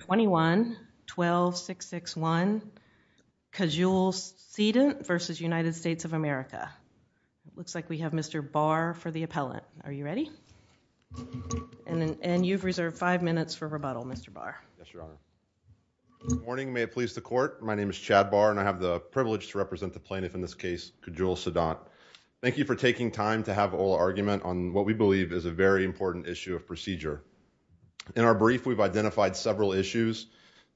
21-12-661 Cajule Cedant v. United States of America. Looks like we have Mr. Barr for the appellant. Are you ready? And you've reserved five minutes for rebuttal, Mr. Barr. Yes, Your Honor. Good morning. May it please the Court. My name is Chad Barr, and I have the privilege to represent the plaintiff in this case, Cajule Cedant. Thank you for taking time to have oral argument on what we believe is a very important issue of procedure. In our brief, we've identified several issues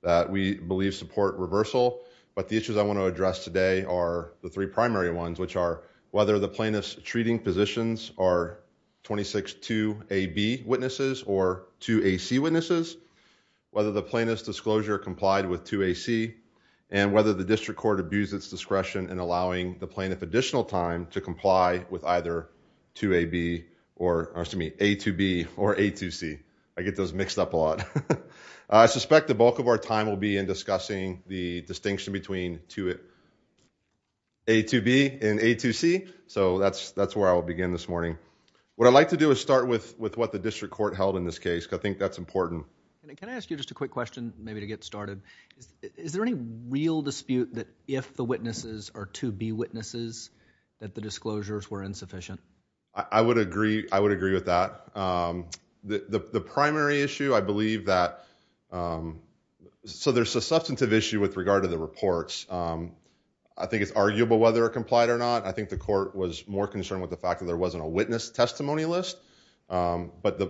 that we believe support reversal. But the issues I want to address today are the three primary ones, which are whether the plaintiff's treating positions are 26-2AB witnesses or 2AC witnesses, whether the plaintiff's disclosure complied with 2AC, and whether the district court abused its discretion in I get those mixed up a lot. I suspect the bulk of our time will be in discussing the distinction between 2A, 2B, and A2C. So that's where I will begin this morning. What I'd like to do is start with what the district court held in this case, because I think that's important. Can I ask you just a quick question, maybe to get started? Is there any real dispute that if the witnesses are 2B witnesses, that the disclosures were insufficient? I would agree. I would agree with that. The primary issue, I believe that, so there's a substantive issue with regard to the reports. I think it's arguable whether it complied or not. I think the court was more concerned with the fact that there wasn't a witness testimony list. But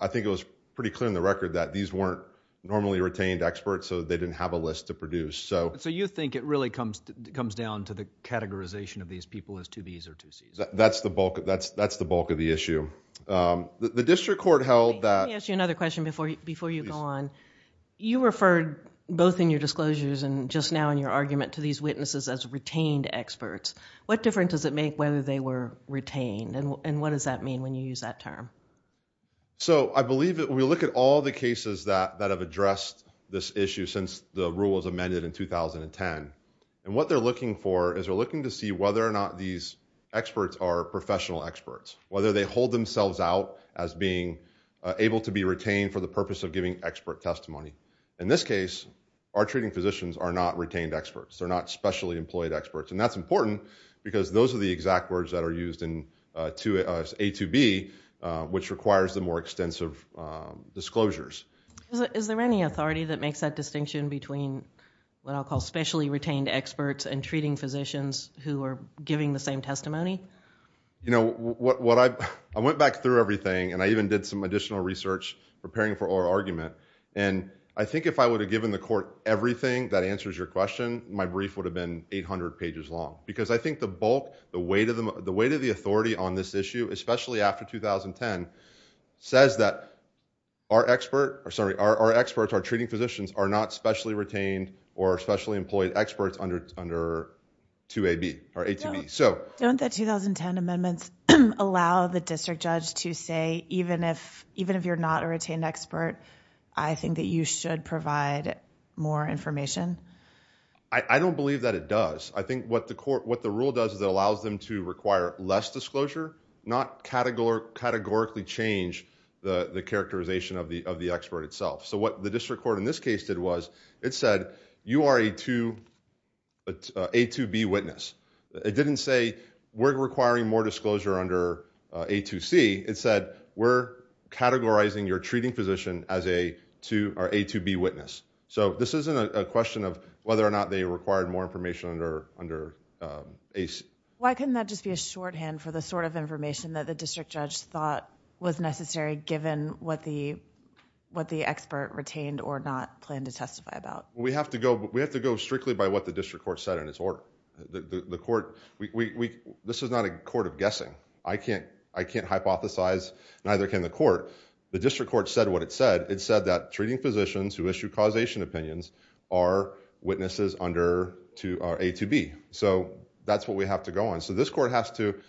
I think it was pretty clear in the record that these weren't normally retained experts, so they didn't have a list to produce. So you think it really comes down to the categorization of these people as 2Bs or 2Cs? That's the bulk of the issue. The district court held that... Let me ask you another question before you go on. You referred both in your disclosures and just now in your argument to these witnesses as retained experts. What difference does it make whether they were retained, and what does that mean when you use that term? So I believe that when we look at all the cases that have addressed this issue since the rule was amended in 2010, and what they're looking for is they're looking to see whether or not these experts are professional experts. Whether they hold themselves out as being able to be retained for the purpose of giving expert testimony. In this case, our treating physicians are not retained experts, they're not specially employed experts. And that's important because those are the exact words that are used in A2B, which requires the more extensive disclosures. Is there any authority that makes that distinction between what I'll call specially retained experts and treating physicians who are giving the same testimony? I went back through everything, and I even did some additional research preparing for our argument. And I think if I would have given the court everything that answers your question, my brief would have been 800 pages long. Because I think the bulk, the weight of the authority on this issue, especially after 2010, says that our experts, our treating physicians, are not specially retained or under 2AB or A2B. Don't the 2010 amendments allow the district judge to say, even if you're not a retained expert, I think that you should provide more information? I don't believe that it does. I think what the rule does is it allows them to require less disclosure, not categorically change the characterization of the expert itself. So what the district court in this case did was it said, you are an A2B witness. It didn't say, we're requiring more disclosure under A2C. It said, we're categorizing your treating physician as an A2B witness. So this isn't a question of whether or not they required more information under AC. Why couldn't that just be a shorthand for the sort of information that the district judge thought was necessary given what the expert retained or not planned to testify about? We have to go strictly by what the district court said in its order. This is not a court of guessing. I can't hypothesize, neither can the court. The district court said what it said. It said that treating physicians who issue causation opinions are witnesses under A2B. So that's what we have to go on. So this court has to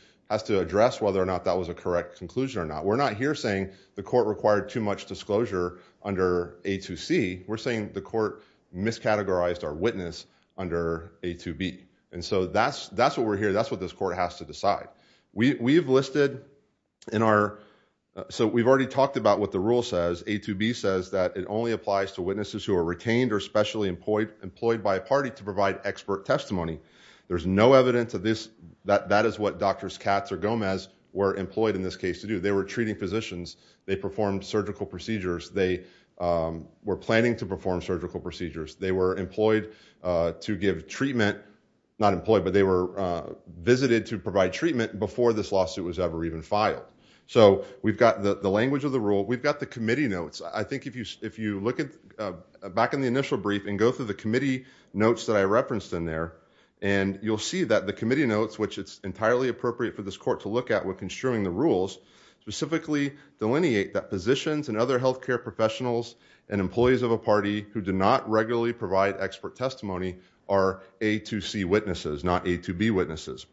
address whether or not that was a correct conclusion or not. We're not here saying the court required too much disclosure under A2C. We're saying the court miscategorized our witness under A2B. And so that's what we're here, that's what this court has to decide. We've listed in our, so we've already talked about what the rule says, A2B says that it only applies to witnesses who are retained or specially employed by a party to provide expert testimony. There's no evidence of this, that is what Doctors Katz or Gomez were employed in this case to do. They were treating physicians. They performed surgical procedures. They were planning to perform surgical procedures. They were employed to give treatment, not employed, but they were visited to provide treatment before this lawsuit was ever even filed. So we've got the language of the rule. We've got the committee notes. I think if you look back in the initial briefing, go through the committee notes that I referenced in there, and you'll see that the committee notes, which it's entirely appropriate for this court to look at when construing the rules, specifically delineate that positions and other healthcare professionals and employees of a party who do not regularly provide expert testimony are A2C witnesses, not A2B witnesses.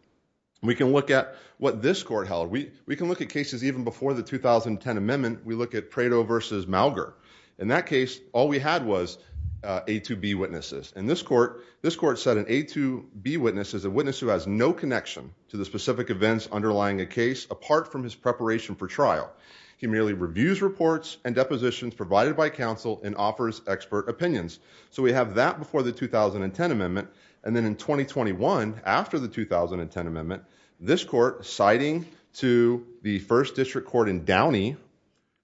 We can look at what this court held. We can look at cases even before the 2010 amendment. We look at Prado versus Mauger. In that case, all we had was A2B witnesses. In this court, this court said an A2B witness is a witness who has no connection to the specific events underlying a case apart from his preparation for trial. He merely reviews reports and depositions provided by counsel and offers expert opinions. So we have that before the 2010 amendment. And then in 2021, after the 2010 amendment, this court, citing to the first district court in Downey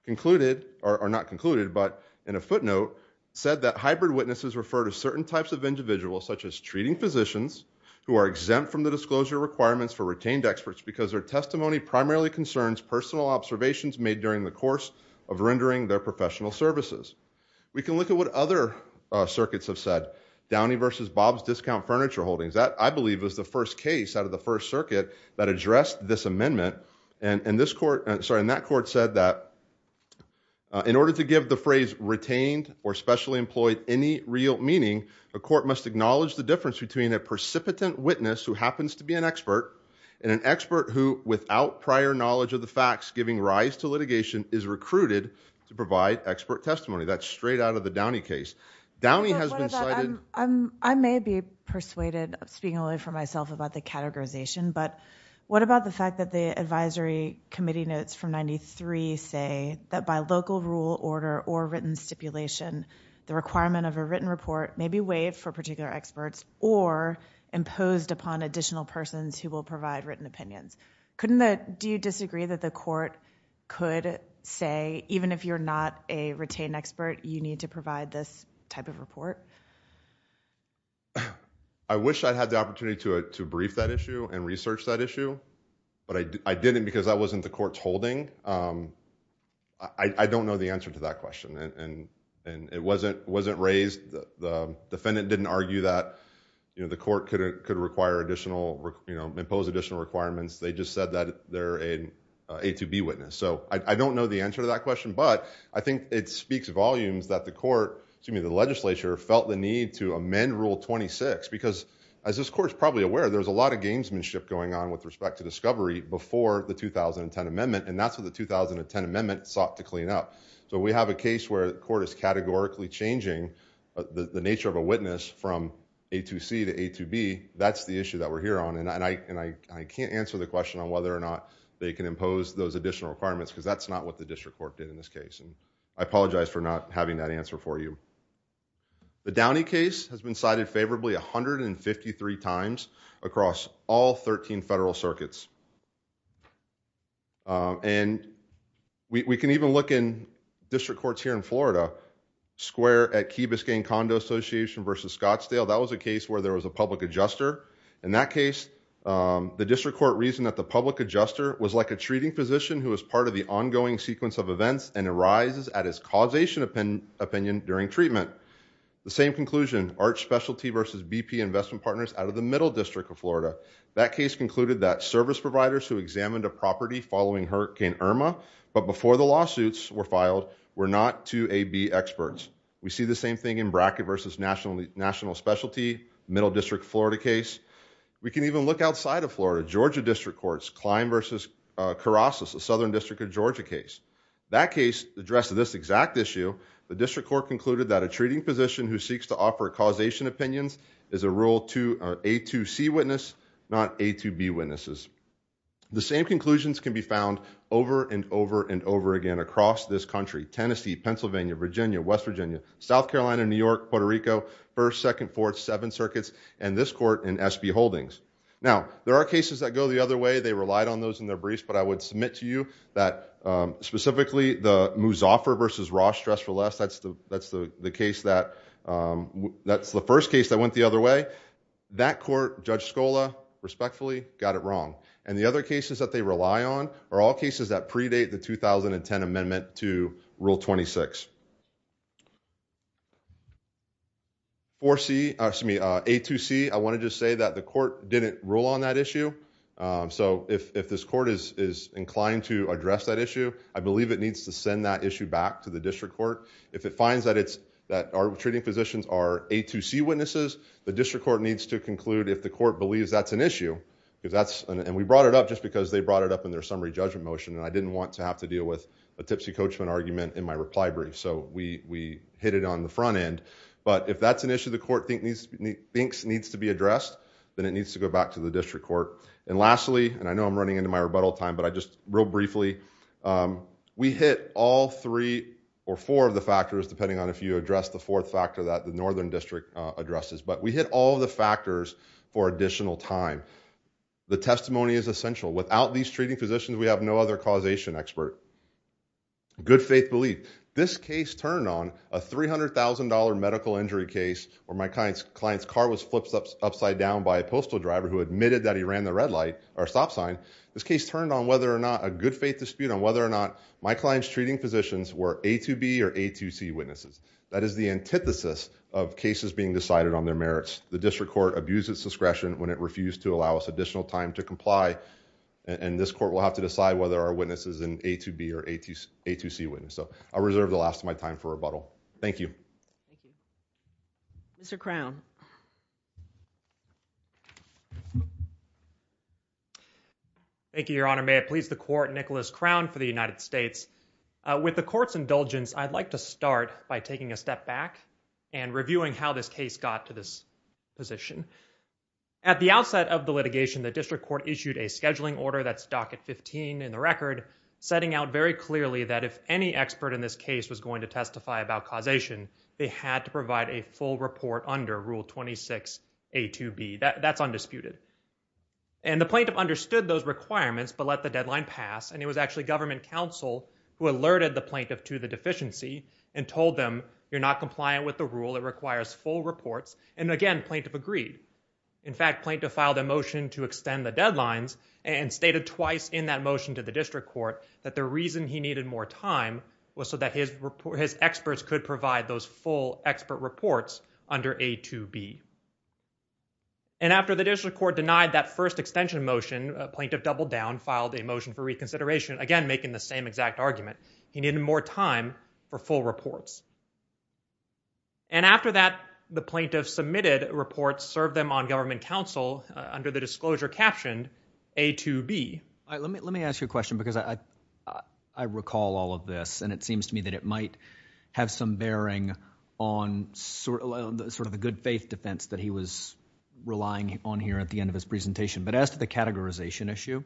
concluded, or not concluded, but in a footnote, said that hybrid witnesses refer to certain types of individuals such as treating physicians who are exempt from the disclosure requirements for retained experts because their testimony primarily concerns personal observations made during the course of rendering their professional services. We can look at what other circuits have said. Downey versus Bob's discount furniture holdings. That I believe was the first case out of the first circuit that addressed this amendment. And this court, sorry, and that court said that in order to give the phrase retained or specially employed any real meaning, a court must acknowledge the difference between a precipitant witness who happens to be an expert and an expert who, without prior knowledge of the facts, giving rise to litigation, is recruited to provide expert testimony. That's straight out of the Downey case. Downey has been cited. I may be persuaded, speaking only for myself about the categorization, but what about the fact that the advisory committee notes from 93 say that by local rule, order, or written stipulation, the requirement of a written report may be weighed for particular experts or imposed upon additional persons who will provide written opinions. Do you disagree that the court could say even if you're not a retained expert, you need to provide this type of report? I wish I had the opportunity to brief that issue and research that issue, but I didn't because that wasn't the court's holding. I don't know the answer to that question, and it wasn't raised. The defendant didn't argue that the court could impose additional requirements. They just said that they're an A to B witness. I don't know the answer to that question, but I think it speaks volumes that the legislature felt the need to amend Rule 26 because, as this court's probably aware, there's a lot of gamesmanship going on with respect to discovery before the 2010 amendment, and that's what the 2010 amendment sought to clean up. We have a case where the court is categorically changing the nature of a witness from A to C to A to B. That's the issue that we're here on, and I can't answer the question on whether or not they can impose those additional requirements because that's not what the district court did in this case. I apologize for not having that answer for you. The Downey case has been cited favorably 153 times across all 13 federal circuits, and we can even look in district courts here in Florida, square at Key Biscayne Condo Association versus Scottsdale. That was a case where there was a public adjuster. In that case, the district court reasoned that the public adjuster was like a treating physician who was part of the ongoing sequence of events and arises at his causation opinion during treatment. The same conclusion, Arch Specialty versus BP Investment Partners out of the Middle District of Florida. That case concluded that service providers who examined a property following Hurricane Irma, but before the lawsuits were filed, were not 2AB experts. We see the same thing in Brackett versus National Specialty, Middle District Florida case. We can even look outside of Florida, Georgia District Courts, Klein versus Karasus, a Southern District of Georgia case. That case addressed this exact issue. The district court concluded that a treating physician who seeks to offer causation opinions is a A2C witness, not A2B witnesses. The same conclusions can be found over and over and over again across this country, Tennessee, Pennsylvania, Virginia, West Virginia, South Carolina, New York, Puerto Rico, 1st, 2nd, 4th, 7 circuits, and this court in SB Holdings. Now there are cases that go the other way. They relied on those in their briefs, but I would submit to you that specifically the Muzaffer versus Ross, Stress for Less, that's the case that, that's the first case that went the other way. That court, Judge Scola, respectfully, got it wrong. And the other cases that they rely on are all cases that predate the 2010 amendment to Rule 26. 4C, excuse me, A2C, I want to just say that the court didn't rule on that issue. So if this court is inclined to address that issue, I believe it needs to send that issue back to the district court. If it finds that it's, that our treating physicians are A2C witnesses, the district court needs to conclude if the court believes that's an issue, because that's, and we brought it up just because they brought it up in their summary judgment motion, and I didn't want to have to deal with a tipsy coachman argument in my reply brief. So we hit it on the front end. But if that's an issue the court thinks needs to be addressed, then it needs to go back to the district court. And lastly, and I know I'm running into my rebuttal time, but I just, real briefly, we hit all three or four of the factors, depending on if you address the fourth factor that the northern district addresses. But we hit all of the factors for additional time. The testimony is essential. Without these treating physicians, we have no other causation expert. Good faith belief. This case turned on a $300,000 medical injury case where my client's car was flipped upside down by a postal driver who admitted that he ran the red light, or stop sign. This case turned on whether or not, a good faith dispute on whether or not my client's treating physicians were A2B or A2C witnesses. That is the antithesis of cases being decided on their merits. The district court abused its discretion when it refused to allow us additional time to comply and this court will have to decide whether our witness is an A2B or A2C witness. So I'll reserve the last of my time for rebuttal. Thank you. Thank you. Thank you. Thank you. Thank you. Thank you. Thank you. Mr. Crown. Thank you, Your Honor. May it please the court, Nicholas Crown for the United States. With the court's indulgence, I'd like to start by taking a step back and reviewing how this case got to this position. At the outset of the litigation, the district court issued a scheduling order that's docket 15 in the record, setting out very clearly that if any expert in this case was going to testify about causation, they had to provide a full report under Rule 26A2B. That's undisputed. And the plaintiff understood those requirements but let the deadline pass and it was actually government counsel who alerted the plaintiff to the deficiency and told them, you're not compliant with the rule. It requires full reports. And again, plaintiff agreed. In fact, plaintiff filed a motion to extend the deadlines and stated twice in that motion to the district court that the reason he needed more time was so that his experts could provide those full expert reports under A2B. And after the district court denied that first extension motion, plaintiff doubled down, filed a motion for reconsideration, again, making the same exact argument. He needed more time for full reports. And after that, the plaintiff submitted reports, served them on government counsel under the disclosure captioned A2B. Let me ask you a question because I recall all of this and it seems to me that it might have some bearing on sort of the good faith defense that he was relying on here at the end of his presentation. But as to the categorization issue,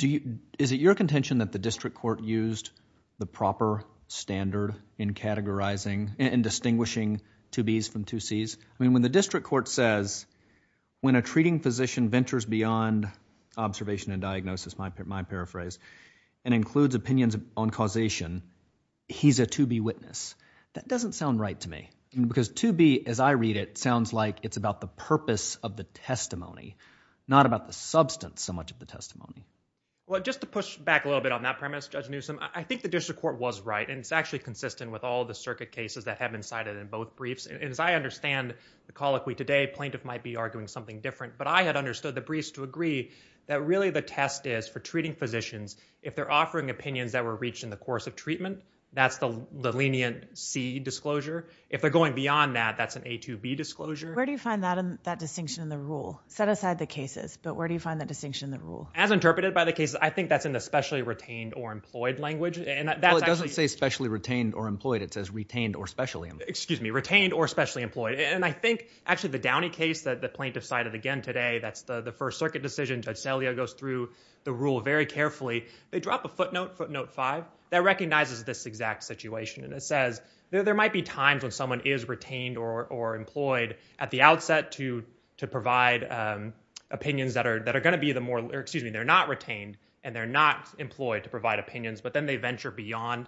is it your contention that the district court used the proper standard in categorizing and distinguishing 2Bs from 2Cs? I mean, when the district court says, when a treating physician ventures beyond observation and diagnosis, my paraphrase, and includes opinions on causation, he's a 2B witness. That doesn't sound right to me because 2B, as I read it, sounds like it's about the purpose of the testimony, not about the substance so much of the testimony. Well, just to push back a little bit on that premise, Judge Newsom, I think the district court was right and it's actually consistent with all the circuit cases that have been cited in both briefs. And as I understand the colloquy today, plaintiff might be arguing something different. But I had understood the briefs to agree that really the test is for treating physicians, if they're offering opinions that were reached in the course of treatment, that's the lenient C disclosure. If they're going beyond that, that's an A2B disclosure. Where do you find that distinction in the rule? Set aside the cases, but where do you find that distinction in the rule? As interpreted by the cases, I think that's in the specially retained or employed language. And that's actually- Well, it doesn't say specially retained or employed. It says retained or specially employed. Excuse me, retained or specially employed. And I think actually the Downey case that the plaintiff cited again today, that's the first circuit decision. Judge Salio goes through the rule very carefully. They drop a footnote, footnote five, that recognizes this exact situation. And it says there might be times when someone is retained or employed at the outset to provide opinions that are going to be the more, excuse me, they're not retained and they're not employed to provide opinions. But then they venture beyond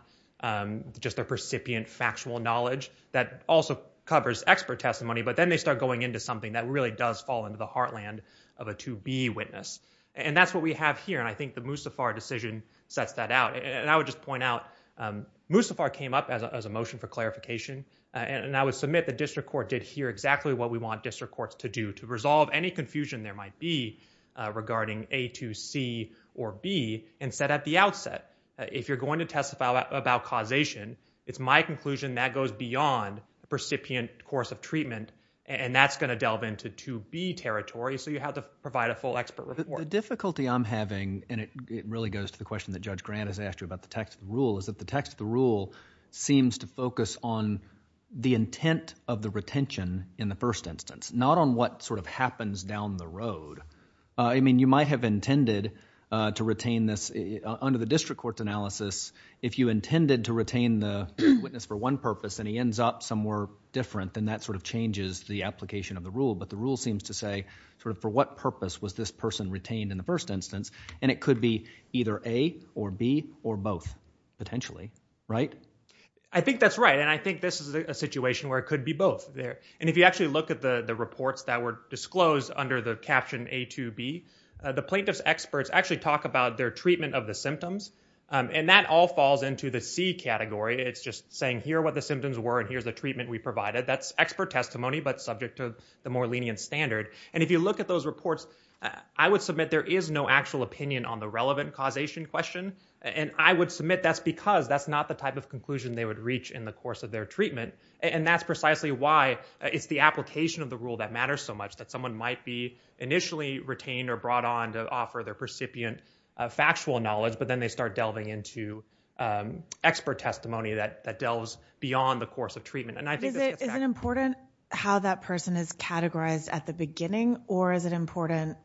just their precipient factual knowledge. That also covers expert testimony, but then they start going into something that really does fall into the heartland of a 2B witness. And that's what we have here. And I think the Musafar decision sets that out. And I would just point out, Musafar came up as a motion for clarification. And I would submit the district court did hear exactly what we want district courts to do, to resolve any confusion there might be regarding A2C or B and set at the outset if you're going to testify about causation, it's my conclusion that goes beyond the precipient course of treatment. And that's going to delve into 2B territory, so you have to provide a full expert report. The difficulty I'm having, and it really goes to the question that Judge Grant has asked you about the text of the rule, is that the text of the rule seems to focus on the intent of the retention in the first instance, not on what sort of happens down the road. I mean, you might have intended to retain this under the district court's analysis. If you intended to retain the witness for one purpose and he ends up somewhere different, then that sort of changes the application of the rule. But the rule seems to say, for what purpose was this person retained in the first instance? And it could be either A or B or both, potentially, right? I think that's right. And I think this is a situation where it could be both. And if you actually look at the reports that were disclosed under the caption A2B, the plaintiff's experts actually talk about their treatment of the symptoms. And that all falls into the C category. It's just saying, here are what the symptoms were, and here's the treatment we provided. That's expert testimony, but subject to the more lenient standard. And if you look at those reports, I would submit there is no actual opinion on the relevant causation question. And I would submit that's because that's not the type of conclusion they would reach in the course of their treatment. And that's precisely why it's the application of the rule that matters so much, that someone might be initially retained or brought on to offer their recipient factual knowledge, but then they start delving into expert testimony that delves beyond the course of treatment. And I think this gets back to you. Is it important how that person is categorized at the beginning, or is it important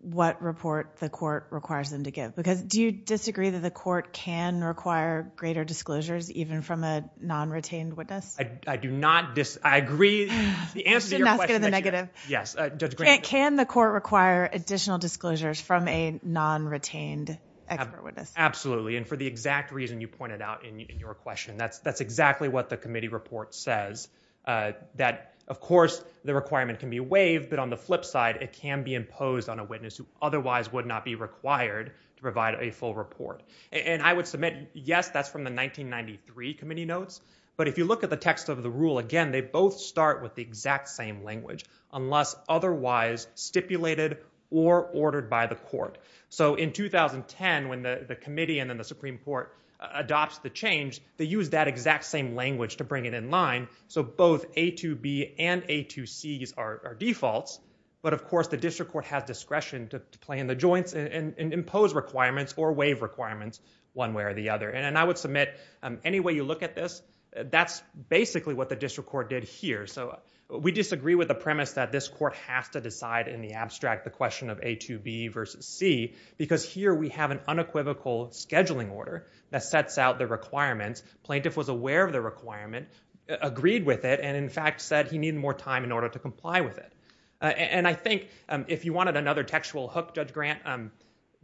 what report the court requires them to give? Because do you disagree that the court can require greater disclosures, even from a non-retained witness? I do not disagree. I agree. You shouldn't ask it in the negative. Yes. Judge Green. Can the court require additional disclosures from a non-retained expert witness? Absolutely. And for the exact reason you pointed out in your question. That's exactly what the committee report says, that, of course, the requirement can be waived, but on the flip side, it can be imposed on a witness who otherwise would not be required to provide a full report. And I would submit, yes, that's from the 1993 committee notes. But if you look at the text of the rule, again, they both start with the exact same language, unless otherwise stipulated or ordered by the court. So in 2010, when the committee and then the Supreme Court adopts the change, they use that exact same language to bring it in line. So both A2B and A2Cs are defaults. But of course, the district court has discretion to play in the joints and impose requirements or waive requirements one way or the other. And I would submit any way you look at this, that's basically what the district court did here. So we disagree with the premise that this court has to decide in the abstract the question of A2B versus C, because here we have an unequivocal scheduling order that sets out the requirements. Plaintiff was aware of the requirement, agreed with it, and in fact said he needed more time in order to comply with it. And I think if you wanted another textual hook, Judge Grant,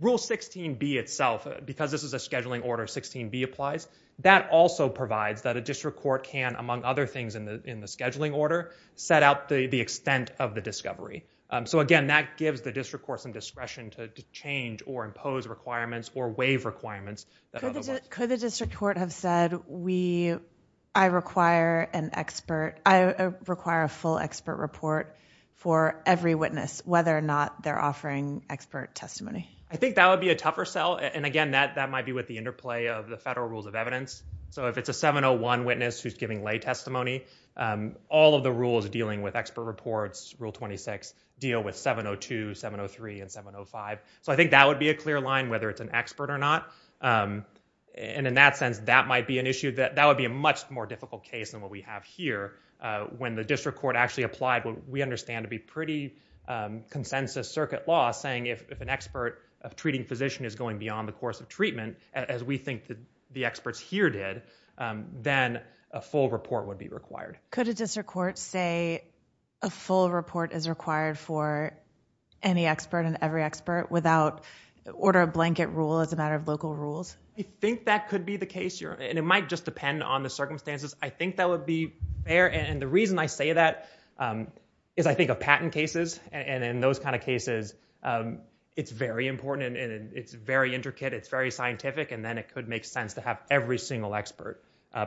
Rule 16B itself, because this is a scheduling order, 16B applies. That also provides that a district court can, among other things in the scheduling order, set out the extent of the discovery. So again, that gives the district court some discretion to change or impose requirements or waive requirements. Could the district court have said, I require a full expert report for every witness, whether or not they're offering expert testimony? I think that would be a tougher sell. And again, that might be with the interplay of the federal rules of evidence. So if it's a 701 witness who's giving lay testimony, all of the rules dealing with expert reports, Rule 26, deal with 702, 703, and 705. So I think that would be a clear line, whether it's an expert or not. And in that sense, that might be an issue that would be a much more difficult case than what we have here, when the district court actually applied what we understand to be pretty consensus circuit law, saying if an expert of treating physician is going beyond the course of treatment, as we think that the experts here did, then a full report would be required. Could a district court say a full report is required for any expert and every expert, without order of blanket rule as a matter of local rules? I think that could be the case. And it might just depend on the circumstances. I think that would be fair. And the reason I say that is I think of patent cases. And in those kind of cases, it's very important. It's very intricate. It's very scientific. And then it could make sense to have every single expert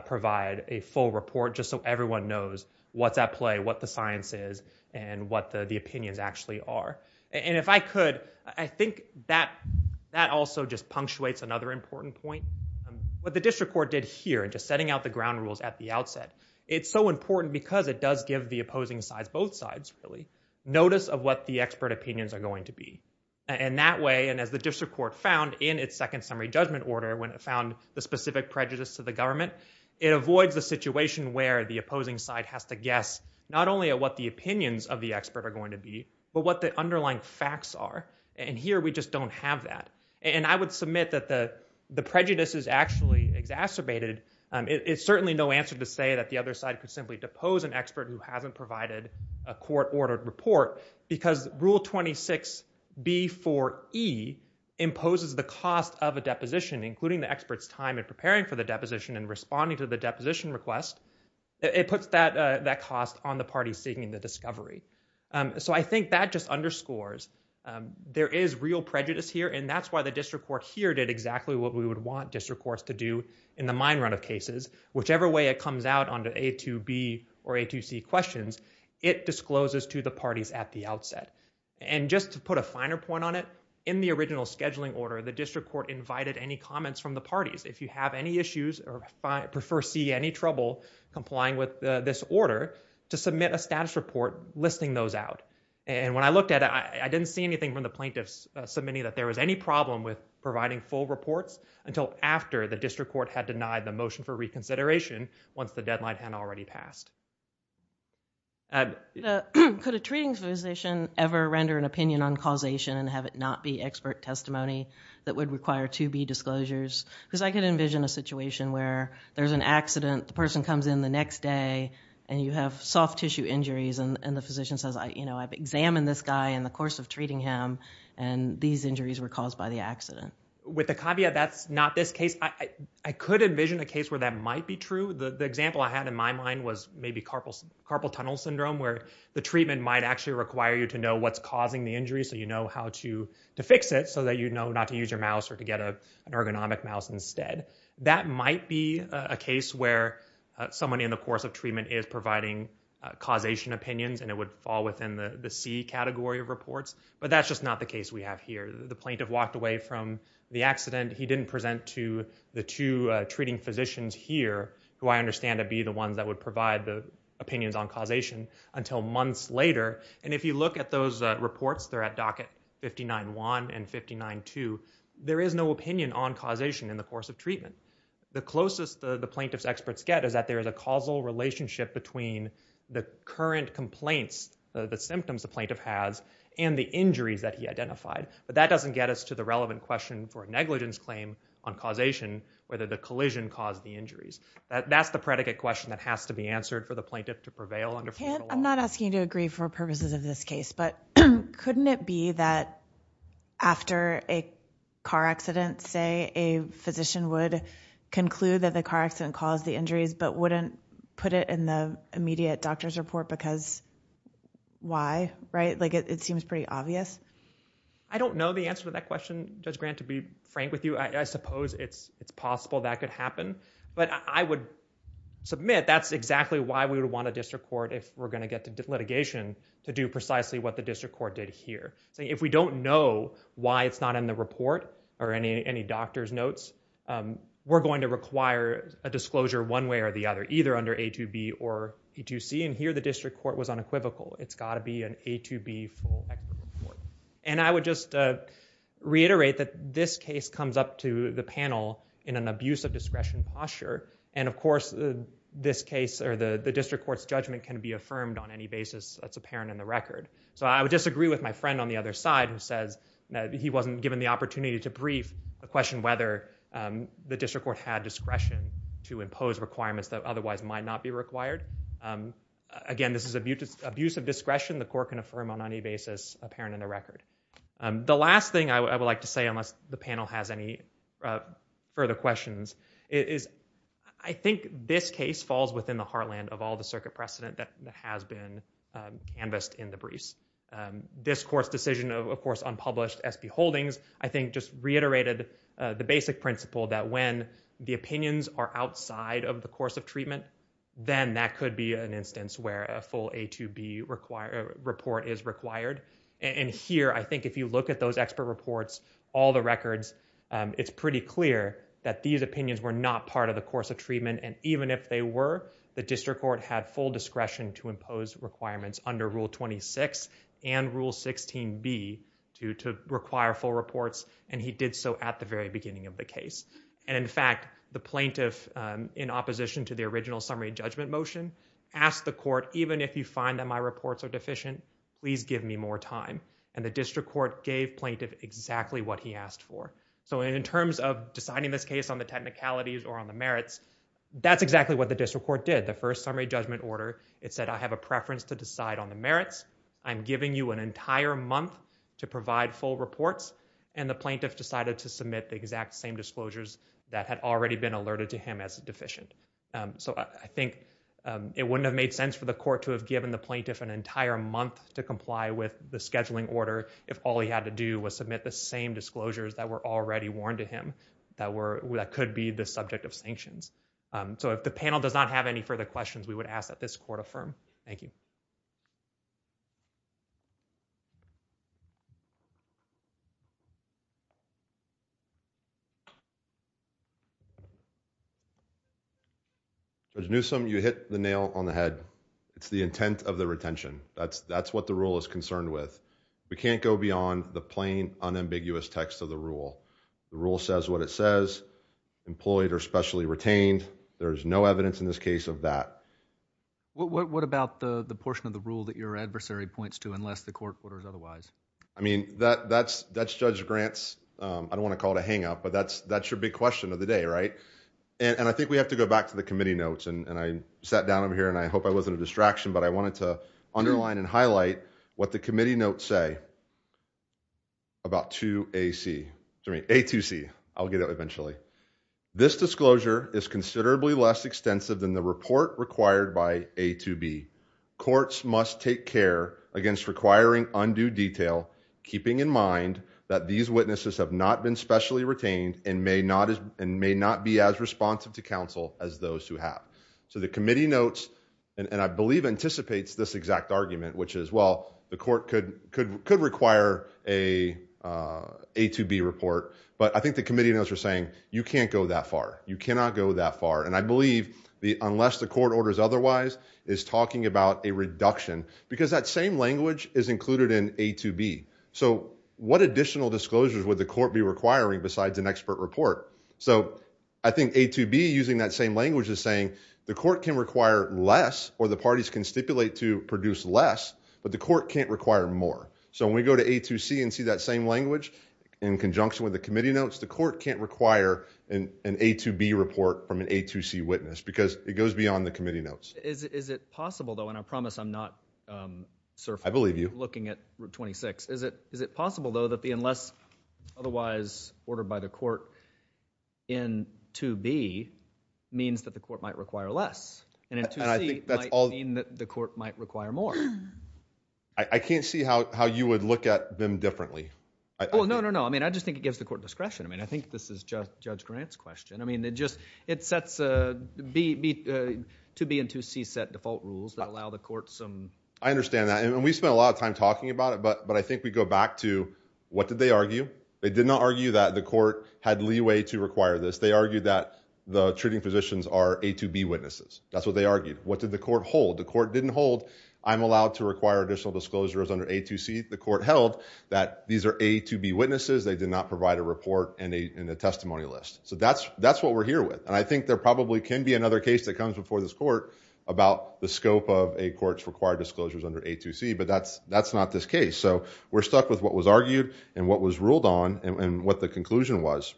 provide a full report, just so everyone knows what's at play, what the science is, and what the opinions actually are. And if I could, I think that also just punctuates another important point. It's so important because it does give the opposing sides, both sides, really, notice of what the expert opinions are going to be. And that way, and as the district court found in its second summary judgment order, when it found the specific prejudice to the government, it avoids the situation where the opposing side has to guess not only at what the opinions of the expert are going to be, but what the underlying facts are. And here, we just don't have that. And I would submit that the prejudice is actually exacerbated. It's certainly no answer to say that the other side could simply depose an expert who hasn't provided a court-ordered report, because Rule 26B4E imposes the cost of a deposition, including the expert's time in preparing for the deposition and responding to the deposition request. It puts that cost on the party seeking the discovery. So I think that just underscores there is real prejudice here. And that's why the district court here did exactly what we would want district courts to do in the mine run of cases, whichever way it comes out on the A2B or A2C questions, it discloses to the parties at the outset. And just to put a finer point on it, in the original scheduling order, the district court invited any comments from the parties, if you have any issues or prefer see any trouble complying with this order, to submit a status report listing those out. And when I looked at it, I didn't see anything from the plaintiffs submitting that there was any problem with providing full reports until after the district court had denied the motion for reconsideration once the deadline had already passed. Could a treating physician ever render an opinion on causation and have it not be expert testimony that would require 2B disclosures? Because I could envision a situation where there's an accident, the person comes in the next day, and you have soft tissue injuries, and the physician says, I've examined this guy in the course of treating him, and these injuries were caused by the accident. With the caveat that's not this case, I could envision a case where that might be true. The example I had in my mind was maybe carpal tunnel syndrome, where the treatment might actually require you to know what's causing the injury so you know how to fix it, so that you know not to use your mouse or to get an ergonomic mouse instead. That might be a case where someone in the course of treatment is providing causation opinions, and it would fall within the C category of reports. But that's just not the case we have here. The plaintiff walked away from the accident. He didn't present to the two treating physicians here, who I understand to be the ones that would provide the opinions on causation, until months later. And if you look at those reports, they're at docket 59-1 and 59-2, there is no opinion on causation in the course of treatment. The closest the plaintiff's experts get is that there is a causal relationship between the current complaints, the symptoms the plaintiff has, and the injuries that he identified. But that doesn't get us to the relevant question for a negligence claim on causation, whether the collision caused the injuries. That's the predicate question that has to be answered for the plaintiff to prevail under federal law. I'm not asking you to agree for purposes of this case, but couldn't it be that after a car accident, say, a physician would conclude that the car accident caused the injuries, but wouldn't put it in the immediate doctor's report because why? It seems pretty obvious. I don't know the answer to that question, Judge Grant, to be frank with you. I suppose it's possible that could happen. But I would submit that's exactly why we would want a district court, if we're going to get to litigation, to do precisely what the district court did here. If we don't know why it's not in the report, or any doctor's notes, we're going to require a disclosure one way or the other, either under A2B or A2C. And here, the district court was unequivocal. It's got to be an A2B full equitable report. And I would just reiterate that this case comes up to the panel in an abuse of discretion posture. And of course, this case, or the district court's judgment, can be affirmed on any basis that's apparent in the record. So I would disagree with my friend on the other side who says that he wasn't given the to impose requirements that otherwise might not be required. Again, this is abuse of discretion. The court can affirm on any basis apparent in the record. The last thing I would like to say, unless the panel has any further questions, is I think this case falls within the heartland of all the circuit precedent that has been canvassed in the briefs. This court's decision, of course, on published SB holdings, I think just reiterated the basic principle that when the opinions are outside of the course of treatment, then that could be an instance where a full A2B report is required. And here, I think if you look at those expert reports, all the records, it's pretty clear that these opinions were not part of the course of treatment. And even if they were, the district court had full discretion to impose requirements under Rule 26 and Rule 16B to require full reports. And he did so at the very beginning of the case. And in fact, the plaintiff, in opposition to the original summary judgment motion, asked the court, even if you find that my reports are deficient, please give me more time. And the district court gave plaintiff exactly what he asked for. So in terms of deciding this case on the technicalities or on the merits, that's exactly what the district court did. The first summary judgment order, it said, I have a preference to decide on the merits. I'm giving you an entire month to provide full reports. And the plaintiff decided to submit the exact same disclosures that had already been alerted to him as deficient. So I think it wouldn't have made sense for the court to have given the plaintiff an entire month to comply with the scheduling order if all he had to do was submit the same disclosures that were already warned to him that could be the subject of sanctions. So if the panel does not have any further questions, we would ask that this court affirm. Thank you. Judge Newsom, you hit the nail on the head. It's the intent of the retention. That's what the rule is concerned with. We can't go beyond the plain, unambiguous text of the rule. The rule says what it says, employed or specially retained. There's no evidence in this case of that. What about the portion of the rule that your adversary points to unless the court orders otherwise? I mean, that's Judge Grant's, I don't want to call it a hang up, but that's your big question of the day, right? And I think we have to go back to the committee notes. And I sat down over here and I hope I wasn't a distraction, but I wanted to underline and highlight what the committee notes say about 2AC, sorry, A2C, I'll get it eventually. This disclosure is considerably less extensive than the report required by A2B. Courts must take care against requiring undue detail, keeping in mind that these witnesses have not been specially retained and may not be as responsive to counsel as those who have. So the committee notes, and I believe anticipates this exact argument, which is, well, the court could require a A2B report. But I think the committee notes are saying, you can't go that far. You cannot go that far. And I believe the, unless the court orders otherwise, is talking about a reduction because that same language is included in A2B. So what additional disclosures would the court be requiring besides an expert report? So I think A2B using that same language is saying the court can require less or the parties can stipulate to produce less, but the court can't require more. So when we go to A2C and see that same language in conjunction with the committee notes, the court can't require an A2B report from an A2C witness because it goes beyond the committee notes. Is it possible though, and I promise I'm not surfering, looking at Route 26, is it possible though that the unless otherwise ordered by the court in 2B means that the court might require less and in 2C might mean that the court might require more? I can't see how you would look at them differently. Oh, no, no, no. I mean, I just think it gives the court discretion. I mean, I think this is Judge Grant's question. I mean, it just, it sets a, 2B and 2C set default rules that allow the court some. I understand that. And we spent a lot of time talking about it, but I think we go back to what did they argue? They did not argue that the court had leeway to require this. They argued that the treating physicians are A2B witnesses. That's what they argued. What did the court hold? The court didn't hold. I'm allowed to require additional disclosures under A2C. The court held that these are A2B witnesses. They did not provide a report and a testimony list. So that's what we're here with. And I think there probably can be another case that comes before this court about the scope of a court's required disclosures under A2C, but that's not this case. So we're stuck with what was argued and what was ruled on and what the conclusion was.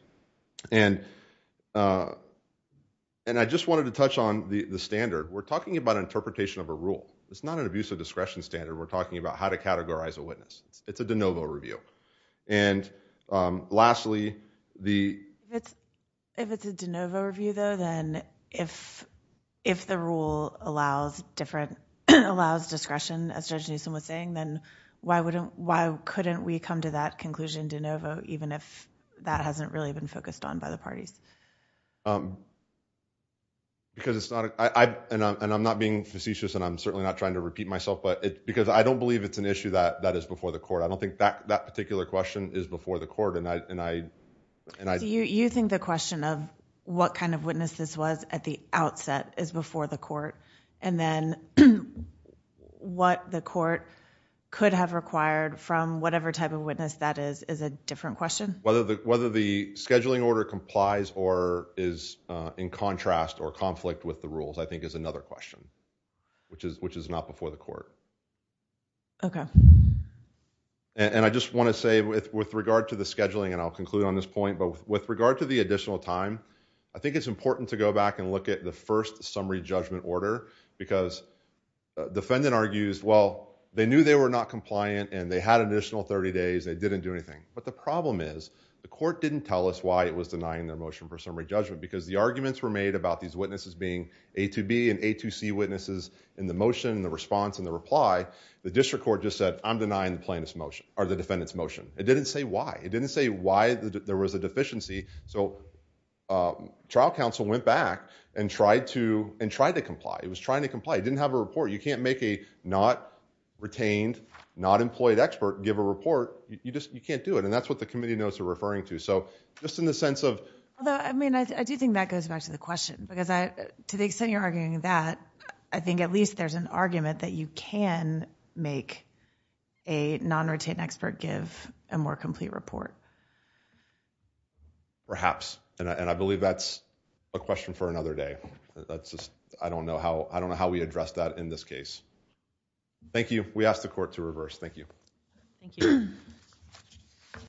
And I just wanted to touch on the standard. We're talking about interpretation of a rule. It's not an abuse of discretion standard. We're talking about how to categorize a witness. It's a de novo review. And lastly, the – If it's a de novo review, though, then if the rule allows different – allows discretion, as Judge Newsom was saying, then why wouldn't – why couldn't we come to that conclusion de novo even if that hasn't really been focused on by the parties? Because it's not – and I'm not being facetious, and I'm certainly not trying to repeat myself, but – because I don't believe it's an issue that is before the court. I don't think that particular question is before the court. And I – So you think the question of what kind of witness this was at the outset is before the court? And then what the court could have required from whatever type of witness that is is a different question? Whether the scheduling order complies or is in contrast or conflict with the rules I think is another question, which is not before the court. Okay. And I just want to say with regard to the scheduling, and I'll conclude on this point, but with regard to the additional time, I think it's important to go back and look at the first summary judgment order because defendant argues, well, they knew they were not compliant and they had an additional 30 days. They didn't do anything. But the problem is the court didn't tell us why it was denying their motion for summary judgment because the arguments were made about these witnesses being A2B and A2C witnesses in the motion, the response, and the reply. The district court just said, I'm denying the plaintiff's motion – or the defendant's motion. It didn't say why. It didn't say why there was a deficiency. So trial counsel went back and tried to – and tried to comply. It was trying to comply. It didn't have a report. You can't make a not-retained, not-employed expert give a report. You just – you can't do it. And that's what the committee notes are referring to. So just in the sense of – Although, I mean, I do think that goes back to the question because I – to the extent you're arguing that, I think at least there's an argument that you can make a non-retained expert give a more complete report. Perhaps. And I believe that's a question for another day. That's just – I don't know how – I don't know how we address that in this case. Thank you. We ask the court to reverse. Thank you. Thank you.